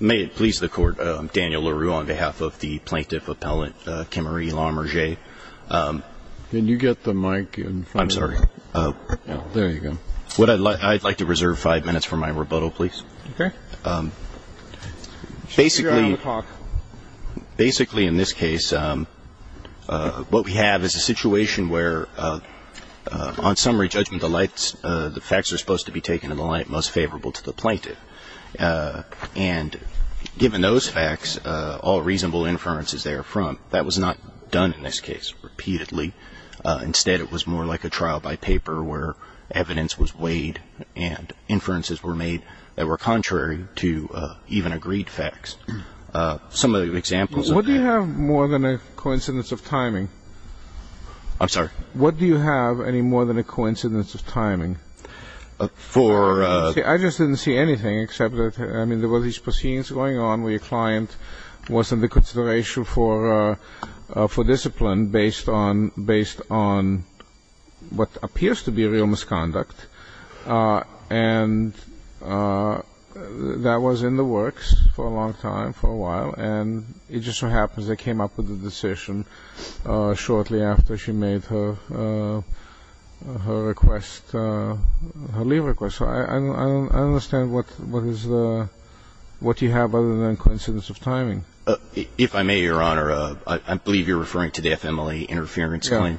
May it please the Court, I'm Daniel LaRue on behalf of the Plaintiff Appellant Kimerie Larmanger. Can you get the mic in front of you? I'm sorry. There you go. I'd like to reserve five minutes for my rebuttal, please. Okay. Basically, in this case, what we have is a situation where, on summary judgment, the facts are supposed to be taken in the light most favorable to the plaintiff. And given those facts, all reasonable inferences therefrom, that was not done in this case repeatedly. Instead, it was more like a trial by paper where evidence was weighed and inferences were made that were contrary to even agreed facts. Some of the examples of that ---- What do you have more than a coincidence of timing? I'm sorry? What do you have any more than a coincidence of timing? For ---- I just didn't see anything except that, I mean, there were these proceedings going on where your client was under consideration for discipline based on what appears to be real misconduct. And that was in the works for a long time, for a while, and it just so happens they came up with a decision shortly after she made her request, her leave request. So I don't understand what you have other than a coincidence of timing. If I may, Your Honor, I believe you're referring to the FMLA interference claim.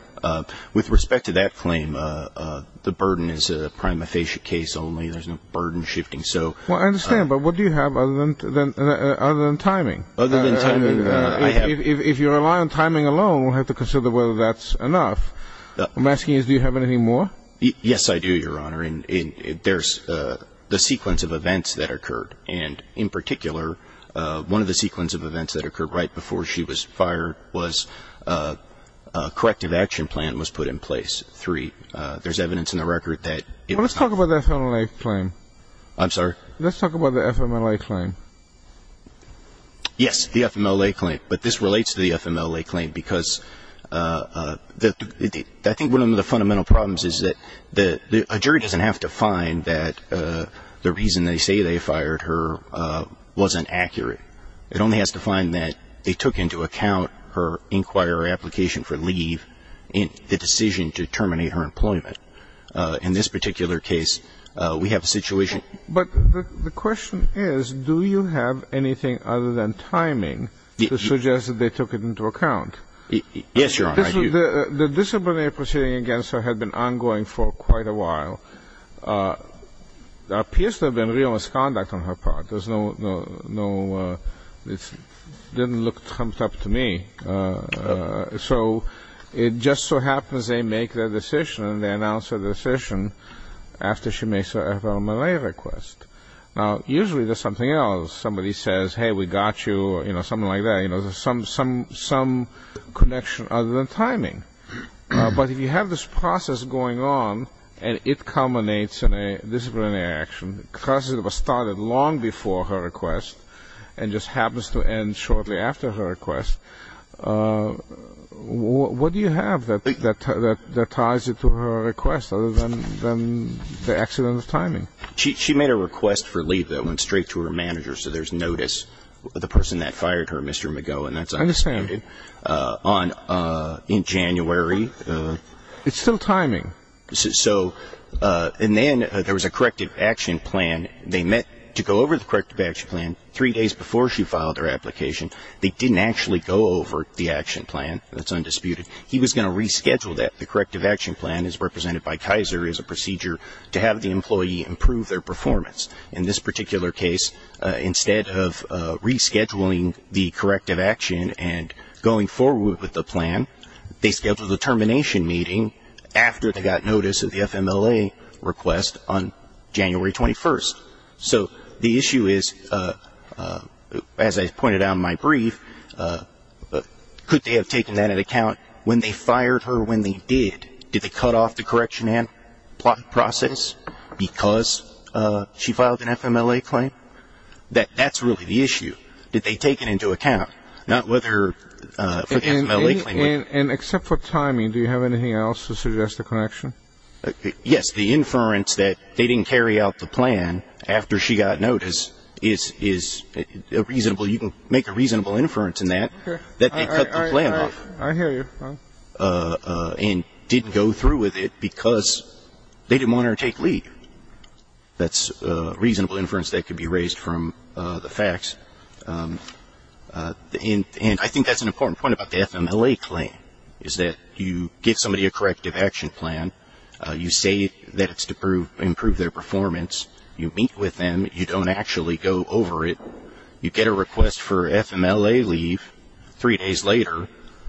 With respect to that claim, the burden is a prima facie case only. There's no burden shifting, so ---- Well, I understand, but what do you have other than timing? Other than timing, I have ---- If you rely on timing alone, we'll have to consider whether that's enough. What I'm asking is do you have anything more? Yes, I do, Your Honor, and there's the sequence of events that occurred. And in particular, one of the sequence of events that occurred right before she was fired was a corrective action plan was put in place. There's evidence in the record that ---- Well, let's talk about the FMLA claim. I'm sorry? Let's talk about the FMLA claim. Yes, the FMLA claim. But this relates to the FMLA claim because I think one of the fundamental problems is that a jury doesn't have to find that the reason they say they fired her wasn't accurate. It only has to find that they took into account her inquiry or application for leave in the decision to terminate her employment. In this particular case, we have a situation ---- Yes, Your Honor, I do. The disciplinary proceeding against her had been ongoing for quite a while. There appears to have been real misconduct on her part. There's no ---- It didn't look trumped up to me. So it just so happens they make their decision and they announce their decision after she makes her FMLA request. Now, usually there's something else. Somebody says, hey, we got you or something like that. There's some connection other than timing. But if you have this process going on and it culminates in a disciplinary action, because it was started long before her request and just happens to end shortly after her request, what do you have that ties it to her request other than the accident of timing? She made a request for leave that went straight to her manager. So there's notice of the person that fired her, Mr. McGough, and that's on in January. It's still timing. And then there was a corrective action plan. They met to go over the corrective action plan three days before she filed her application. They didn't actually go over the action plan. That's undisputed. He was going to reschedule that. The corrective action plan, as represented by Kaiser, is a procedure to have the employee improve their performance. In this particular case, instead of rescheduling the corrective action and going forward with the plan, they scheduled a termination meeting after they got notice of the FMLA request on January 21st. So the issue is, as I pointed out in my brief, could they have taken that into account when they fired her, when they did? Did they cut off the correction and plot process because she filed an FMLA claim? That's really the issue. Did they take it into account? Not whether for the FMLA claim. And except for timing, do you have anything else to suggest a connection? Yes. The inference that they didn't carry out the plan after she got notice is reasonable. So you can make a reasonable inference in that, that they cut the plan off. I hear you. And didn't go through with it because they didn't want her to take lead. That's a reasonable inference that could be raised from the facts. And I think that's an important point about the FMLA claim, is that you give somebody a corrective action plan. You say that it's to improve their performance. You meet with them. You don't actually go over it. You get a request for FMLA leave three days later,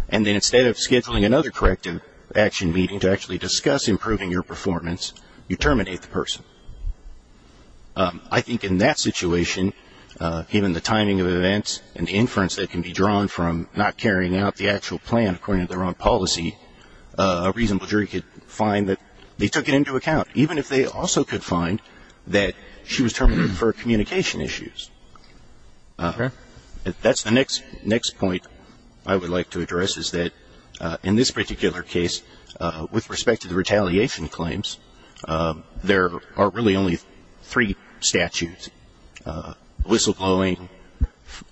and then instead of scheduling another corrective action meeting to actually discuss improving your performance, you terminate the person. I think in that situation, given the timing of events and the inference that can be drawn from not carrying out the actual plan, according to their own policy, a reasonable jury could find that they took it into account, even if they also could find that she was terminated for communication issues. That's the next point I would like to address, is that in this particular case, with respect to the retaliation claims, there are really only three statutes, whistleblowing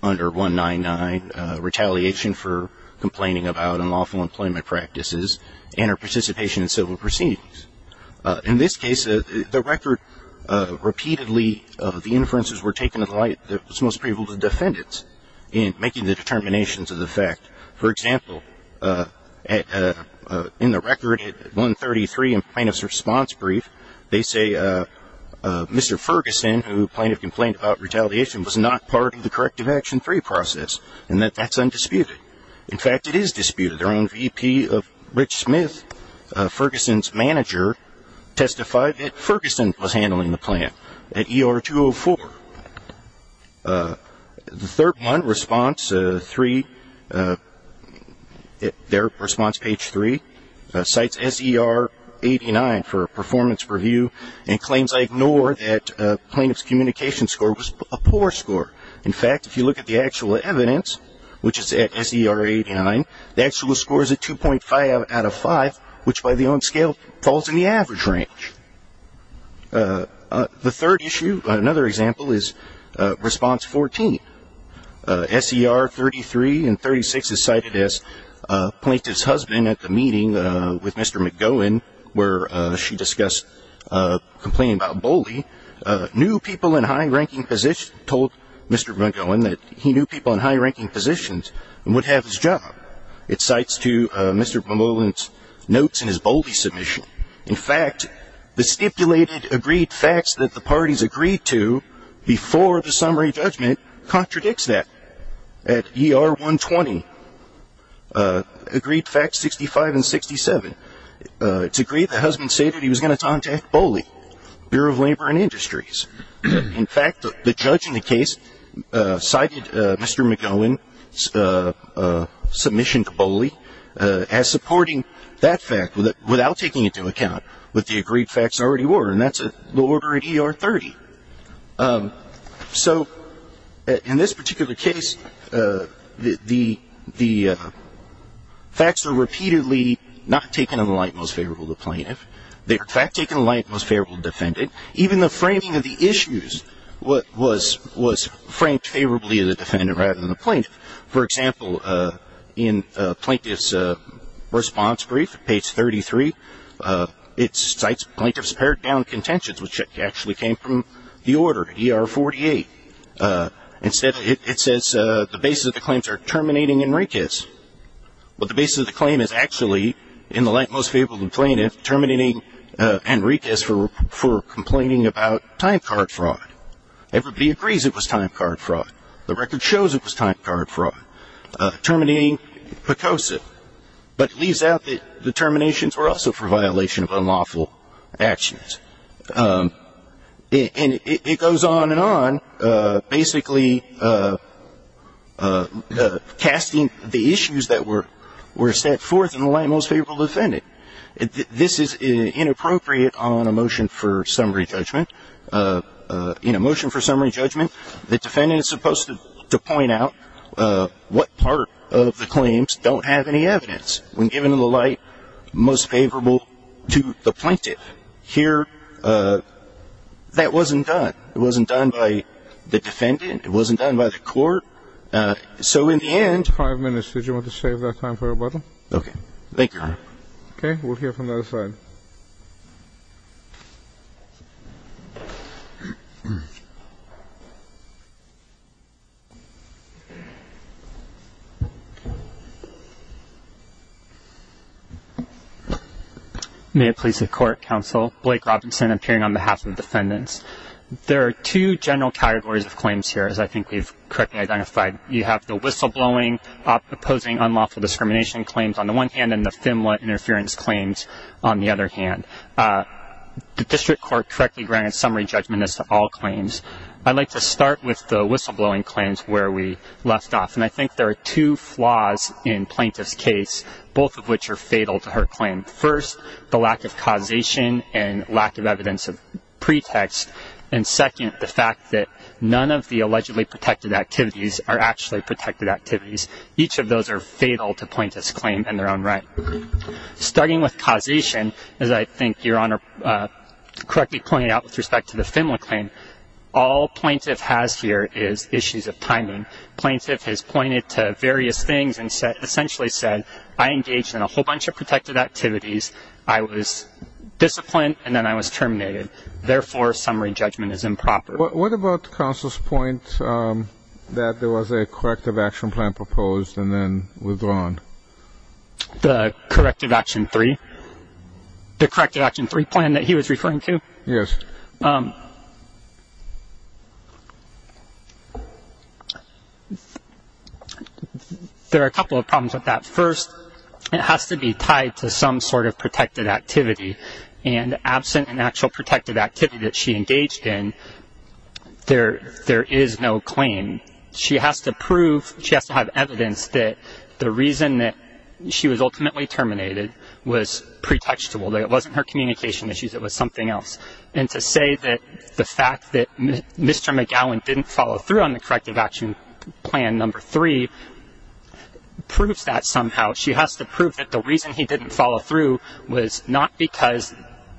under 199, retaliation for complaining about unlawful employment practices, and her participation in civil proceedings. In this case, the record repeatedly, the inferences were taken to the light that was most prevalent to the defendants in making the determinations of the fact. For example, in the record at 133 in plaintiff's response brief, they say Mr. Ferguson, who plaintiff complained about retaliation, was not part of the corrective action three process, and that that's undisputed. In fact, it is disputed. Their own VP of Rich Smith, Ferguson's manager, testified that Ferguson was handling the plan at ER 204. The third one, response three, their response page three, cites SER 89 for a performance review, and claims I ignore that plaintiff's communication score was a poor score. In fact, if you look at the actual evidence, which is at SER 89, the actual score is a 2.5 out of 5, which by the own scale falls in the average range. The third issue, another example, is response 14. SER 33 and 36 is cited as plaintiff's husband at the meeting with Mr. McGowan, where she discussed complaining about bullying, told Mr. McGowan that he knew people in high-ranking positions and would have his job. It cites to Mr. McGowan's notes in his bully submission. In fact, the stipulated agreed facts that the parties agreed to before the summary judgment contradicts that. At ER 120, agreed facts 65 and 67, it's agreed the husband stated he was going to contact Bully, Bureau of Labor and Industries. In fact, the judge in the case cited Mr. McGowan's submission to Bully as supporting that fact without taking into account what the agreed facts already were, and that's the order at ER 30. So in this particular case, the facts are repeatedly not taken in the light most favorable to the plaintiff. They are, in fact, taken in the light most favorable to the defendant. Even the framing of the issues was framed favorably to the defendant rather than the plaintiff. For example, in Plaintiff's Response Brief, page 33, it cites plaintiff's pared-down contentions, which actually came from the order at ER 48. Instead, it says the basis of the claims are terminating Enriquez. But the basis of the claim is actually, in the light most favorable to the plaintiff, terminating Enriquez for complaining about time card fraud. Everybody agrees it was time card fraud. The record shows it was time card fraud. Terminating Picoso. But it leaves out that the terminations were also for violation of unlawful actions. And it goes on and on, basically casting the issues that were set forth in the light most favorable to the defendant. This is inappropriate on a motion for summary judgment. In a motion for summary judgment, the defendant is supposed to point out what part of the claims don't have any evidence, when given in the light most favorable to the plaintiff. Here, that wasn't done. It wasn't done by the defendant. It wasn't done by the court. So in the end ---- Five minutes. Did you want to save that time for rebuttal? Okay. Okay. We'll hear from the other side. May it please the Court, Counsel. Blake Robinson appearing on behalf of defendants. There are two general categories of claims here, as I think we've correctly identified. You have the whistleblowing, opposing unlawful discrimination claims on the one hand, and then the FIMLA interference claims on the other hand. The district court correctly granted summary judgment as to all claims. I'd like to start with the whistleblowing claims where we left off. And I think there are two flaws in plaintiff's case, both of which are fatal to her claim. First, the lack of causation and lack of evidence of pretext. And second, the fact that none of the allegedly protected activities are actually protected activities. Each of those are fatal to plaintiff's claim in their own right. Starting with causation, as I think Your Honor correctly pointed out with respect to the FIMLA claim, all plaintiff has here is issues of timing. Plaintiff has pointed to various things and essentially said, I engaged in a whole bunch of protected activities, I was disciplined, and then I was terminated. Therefore, summary judgment is improper. What about counsel's point that there was a corrective action plan proposed and then withdrawn? The corrective action three? The corrective action three plan that he was referring to? Yes. There are a couple of problems with that. First, it has to be tied to some sort of protected activity. And absent an actual protected activity that she engaged in, there is no claim. She has to prove, she has to have evidence that the reason that she was ultimately terminated was pretextual, that it wasn't her communication issues, it was something else. And to say that the fact that Mr. McGowan didn't follow through on the corrective action plan number three proves that somehow. She has to prove that the reason he didn't follow through was not because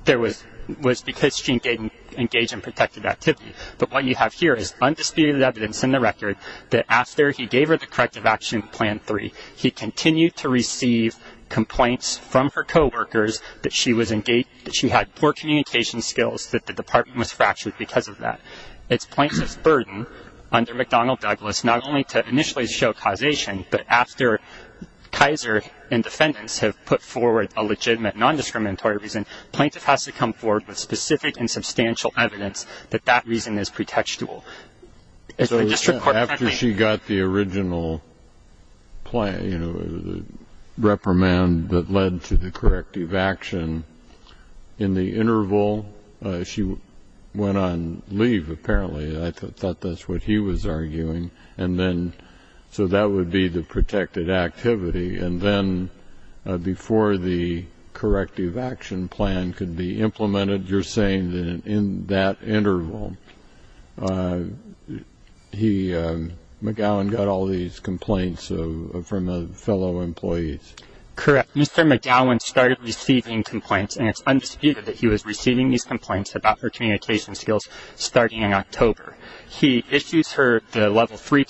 there was, was because she didn't engage in protected activity. But what you have here is undisputed evidence in the record that after he gave her the corrective action plan three, he continued to receive complaints from her coworkers that she was engaged, that she had poor communication skills, that the department was fractured because of that. It's plaintiff's burden under McDonnell Douglas not only to initially show causation, but after Kaiser and defendants have put forward a legitimate non-discriminatory reason, plaintiff has to come forward with specific and substantial evidence that that reason is pretextual. So after she got the original plan, you know, reprimand that led to the corrective action, in the interval she went on leave, apparently. I thought that's what he was arguing. And then so that would be the protected activity. And then before the corrective action plan could be implemented, you're saying that in that interval, McGowan got all these complaints from fellow employees. Correct. Mr. McGowan started receiving complaints, and it's undisputed that he was receiving these complaints about her communication skills starting in October. He issues her the level three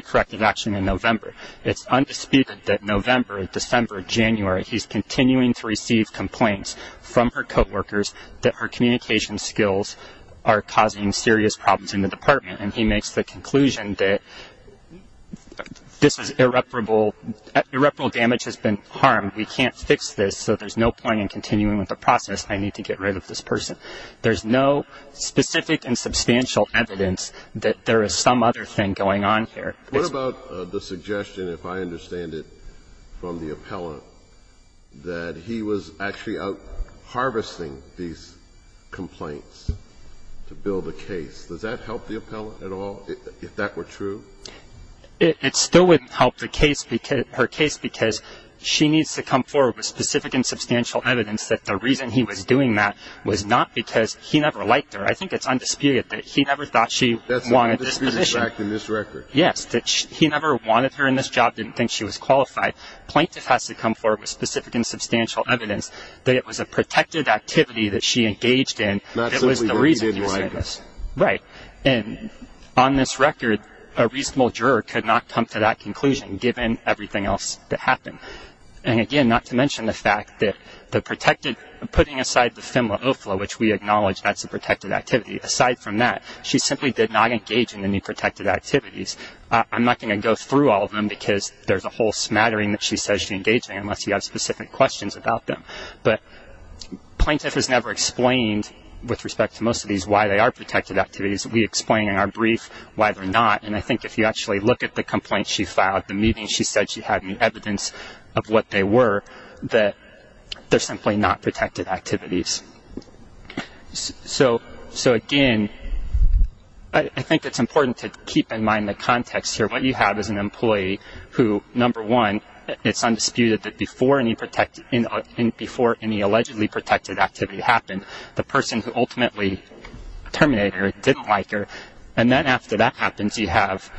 corrective action in November. It's undisputed that November, December, January, he's continuing to receive complaints from her coworkers that her communication skills are causing serious problems in the department, and he makes the conclusion that this is irreparable. Irreparable damage has been harmed. We can't fix this, so there's no point in continuing with the process. I need to get rid of this person. There's no specific and substantial evidence that there is some other thing going on here. What about the suggestion, if I understand it from the appellant, that he was actually out harvesting these complaints to build a case? Does that help the appellant at all, if that were true? It still wouldn't help the case, her case, because she needs to come forward with specific and substantial evidence that the reason he was doing that was not because he never liked her. I think it's undisputed that he never thought she wanted this position. That's undisputed fact in this record. Yes, that he never wanted her in this job, didn't think she was qualified. Plaintiff has to come forward with specific and substantial evidence that it was a protected activity that she engaged in that was the reason he was doing this. Right, and on this record, a reasonable juror could not come to that conclusion, given everything else that happened. Again, not to mention the fact that putting aside the FIMLA OFLA, which we acknowledge that's a protected activity, aside from that, she simply did not engage in any protected activities. I'm not going to go through all of them, because there's a whole smattering that she says she engaged in, unless you have specific questions about them. But plaintiff has never explained, with respect to most of these, why they are protected activities. We explain in our brief why they're not, and I think if you actually look at the complaints she filed, she said she had no evidence of what they were, that they're simply not protected activities. So again, I think it's important to keep in mind the context here. What you have is an employee who, number one, it's undisputed that before any allegedly protected activity happened, the person who ultimately terminated her didn't like her. And then after that happens, you have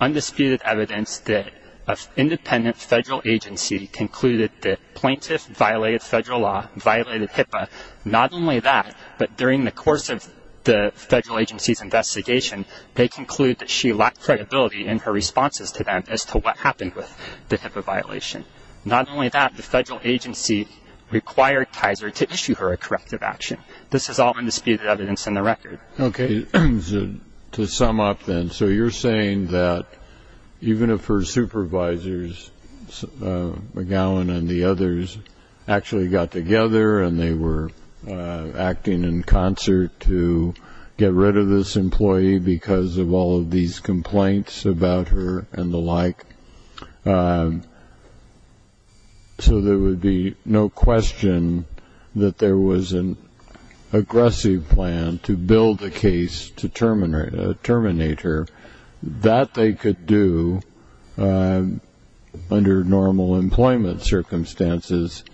undisputed evidence that an independent federal agency concluded that plaintiff violated federal law, violated HIPAA. Not only that, but during the course of the federal agency's investigation, they concluded that she lacked credibility in her responses to them as to what happened with the HIPAA violation. Not only that, the federal agency required Kaiser to issue her a corrective action. This is all undisputed evidence in the record. Okay. To sum up then, so you're saying that even if her supervisors, McGowan and the others, actually got together and they were acting in concert to get rid of this employee because of all of these complaints about her and the like, so there would be no question that there was an aggressive plan to build a case to terminate her, that they could do under normal employment circumstances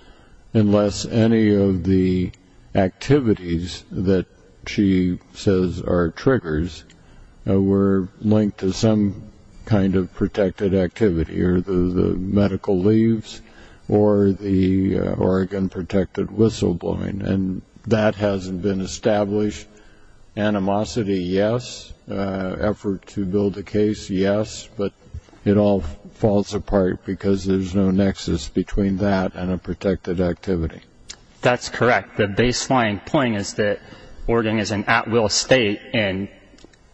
unless any of the activities that she says are triggers were linked to some kind of protected activity, or the medical leaves or the Oregon protected whistleblowing. And that hasn't been established. Animosity, yes. Effort to build a case, yes. But it all falls apart because there's no nexus between that and a protected activity. That's correct. The baseline point is that Oregon is an at-will state, and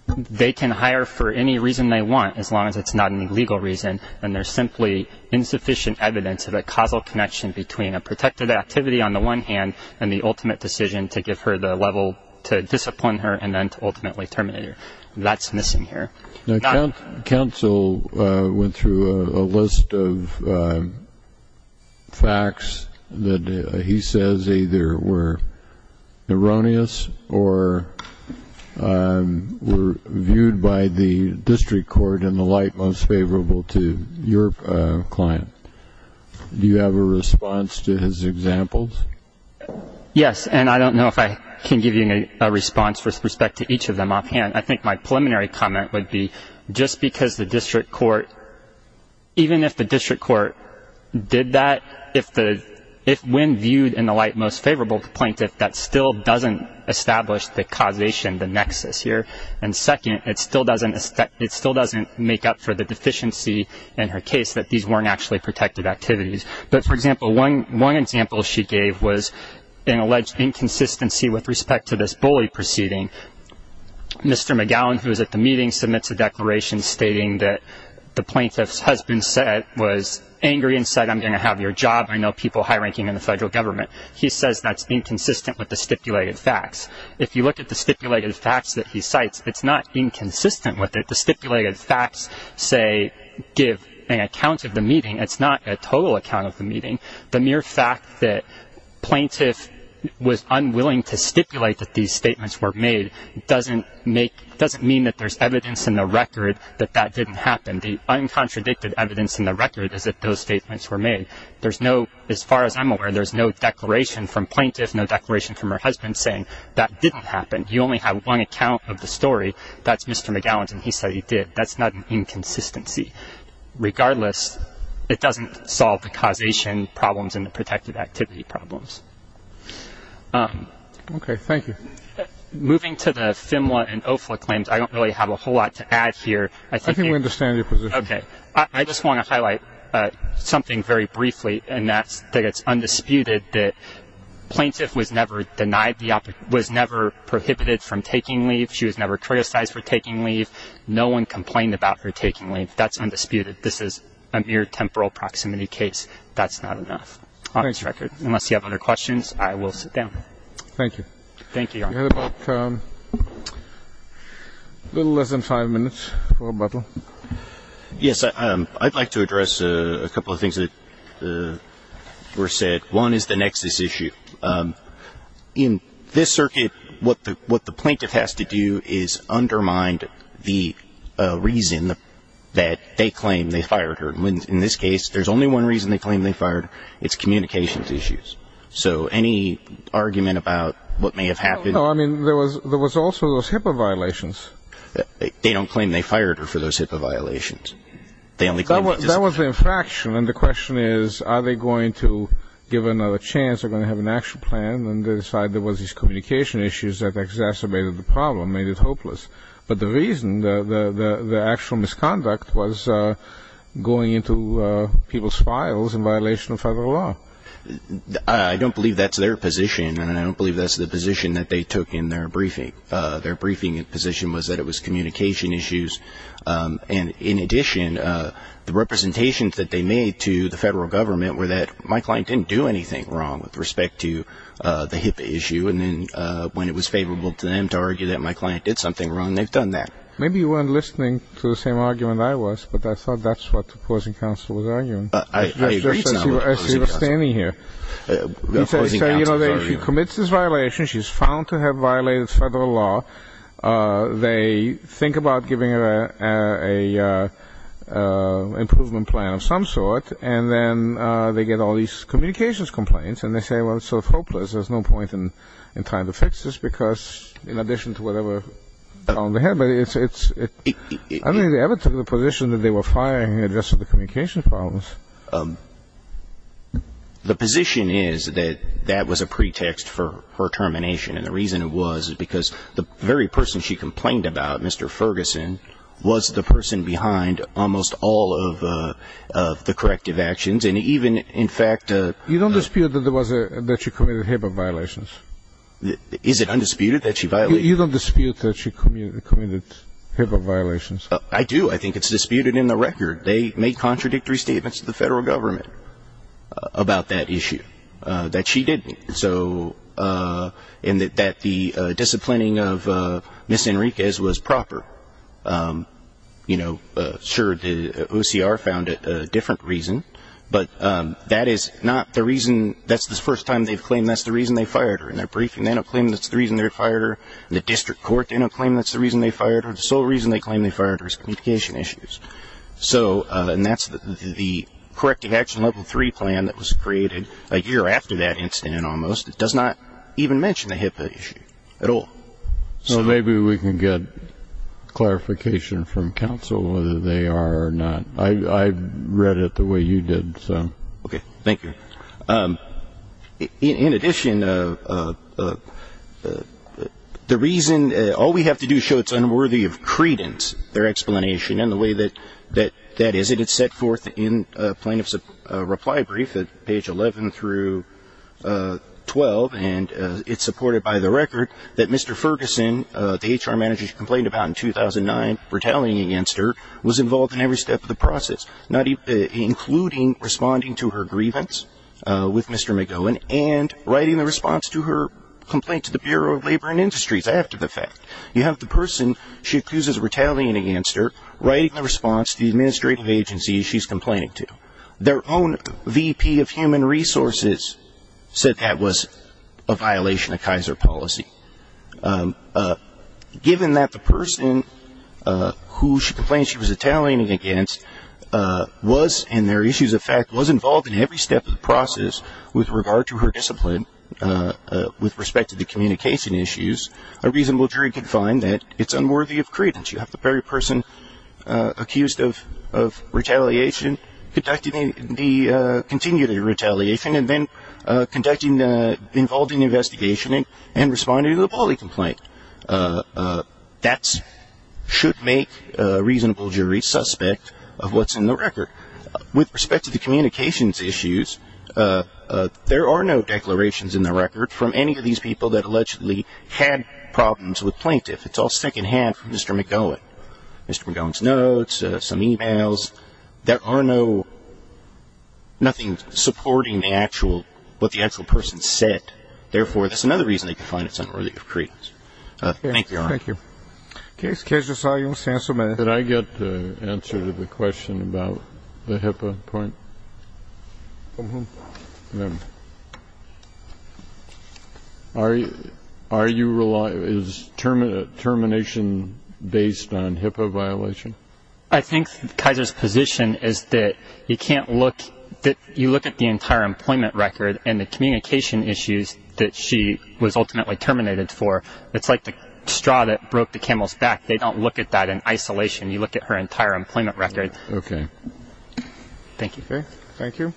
they can hire for any reason they want as long as it's not a legal reason, and there's simply insufficient evidence of a causal connection between a protected activity on the one hand and the ultimate decision to give her the level to discipline her and then to ultimately terminate her. That's missing here. Counsel went through a list of facts that he says either were erroneous or were viewed by the district court in the light most favorable to your client. Do you have a response to his examples? Yes, and I don't know if I can give you a response with respect to each of them offhand. I think my preliminary comment would be just because the district court, even if the district court did that, if when viewed in the light most favorable to the plaintiff, that still doesn't establish the causation, the nexus here. And second, it still doesn't make up for the deficiency in her case that these weren't actually protected activities. But, for example, one example she gave was an alleged inconsistency with respect to this bully proceeding. Mr. McGowan, who was at the meeting, submits a declaration stating that the plaintiff's husband was angry and said, I'm going to have your job. I know people high ranking in the federal government. He says that's inconsistent with the stipulated facts. If you look at the stipulated facts that he cites, it's not inconsistent with it. The stipulated facts, say, give an account of the meeting. It's not a total account of the meeting. The mere fact that plaintiff was unwilling to stipulate that these statements were made doesn't make, doesn't mean that there's evidence in the record that that didn't happen. The uncontradicted evidence in the record is that those statements were made. There's no, as far as I'm aware, there's no declaration from plaintiff, no declaration from her husband saying that didn't happen. You only have one account of the story. That's Mr. McGowan's, and he said he did. That's not an inconsistency. Regardless, it doesn't solve the causation problems and the protected activity problems. Okay, thank you. Moving to the FMLA and OFLA claims, I don't really have a whole lot to add here. I think we understand your position. Okay. I just want to highlight something very briefly, and that's that it's undisputed that plaintiff was never denied the, was never prohibited from taking leave. She was never criticized for taking leave. No one complained about her taking leave. That's undisputed. This is a mere temporal proximity case. That's not enough on this record. Unless you have other questions, I will sit down. Thank you. Thank you, Your Honor. We have about a little less than five minutes for rebuttal. Yes, I'd like to address a couple of things that were said. One is the nexus issue. In this circuit, what the plaintiff has to do is undermine the reason that they claim they fired her. In this case, there's only one reason they claim they fired her. It's communications issues. So any argument about what may have happened? No, I mean, there was also those HIPAA violations. They don't claim they fired her for those HIPAA violations. They only claim that she's ---- That was the infraction, and the question is, are they going to give another chance? Are they going to have an actual plan and decide there was these communication issues that exacerbated the problem, made it hopeless? But the reason, the actual misconduct was going into people's files in violation of federal law. I don't believe that's their position, and I don't believe that's the position that they took in their briefing. Their briefing position was that it was communication issues. And, in addition, the representations that they made to the federal government were that my client didn't do anything wrong with respect to the HIPAA issue, and then when it was favorable to them to argue that my client did something wrong, they've done that. Maybe you weren't listening to the same argument I was, but I thought that's what the opposing counsel was arguing. I agree. The opposing counsel was arguing. She commits this violation. She's found to have violated federal law. They think about giving her an improvement plan of some sort, and then they get all these communications complaints, and they say, well, it's sort of hopeless. There's no point in trying to fix this because, in addition to whatever they had, I don't think they ever took the position that they were firing her just for the communication problems. The position is that that was a pretext for her termination, and the reason it was is because the very person she complained about, Mr. Ferguson, was the person behind almost all of the corrective actions, and even, in fact the ---- You don't dispute that there was a ---- that she committed HIPAA violations? Is it undisputed that she violated? You don't dispute that she committed HIPAA violations? I do. I think it's disputed in the record. They made contradictory statements to the federal government about that issue, that she didn't, and that the disciplining of Ms. Enriquez was proper. Sure, the OCR found a different reason, but that is not the reason. That's the first time they've claimed that's the reason they fired her in their briefing. They don't claim that's the reason they fired her. The district court didn't claim that's the reason they fired her. The sole reason they claimed they fired her is communication issues, and that's the corrective action level three plan that was created a year after that incident almost. It does not even mention the HIPAA issue at all. So maybe we can get clarification from counsel whether they are or not. I read it the way you did. Okay. Thank you. In addition, the reason, all we have to do is show it's unworthy of credence, their explanation, and the way that that is. It is set forth in plaintiff's reply brief at page 11 through 12, and it's supported by the record that Mr. Ferguson, the HR manager she complained about in 2009, retaliating against her, was involved in every step of the process, including responding to her grievance with Mr. McGowan and writing the response to her complaint to the Bureau of Labor and Industries after the fact. You have the person she accuses of retaliating against her writing the response to the administrative agency she's complaining to. Their own VP of Human Resources said that was a violation of Kaiser policy. Given that the person who she complained she was retaliating against was, and their issues of fact was involved in every step of the process with regard to her discipline, with respect to the communication issues, a reasonable jury could find that it's unworthy of credence. You have the very person accused of retaliation conducting the continued retaliation and then conducting the involving investigation and responding to the bully complaint. That should make a reasonable jury suspect of what's in the record. With respect to the communications issues, there are no declarations in the record from any of these people that allegedly had problems with plaintiff. It's all secondhand from Mr. McGowan. Mr. McGowan's notes, some e-mails. There are no, nothing supporting the actual, what the actual person said. Therefore, that's another reason they could find it's unworthy of credence. Thank you, Your Honor. Thank you. Did I get the answer to the question about the HIPAA point? Mm-hmm. Are you, is termination based on HIPAA violation? I think Kaiser's position is that you can't look, that you look at the entire employment record and the communication issues that she was ultimately terminated for. It's like the straw that broke the camel's back. They don't look at that in isolation. You look at her entire employment record. Okay. Thank you. Okay. Thank you.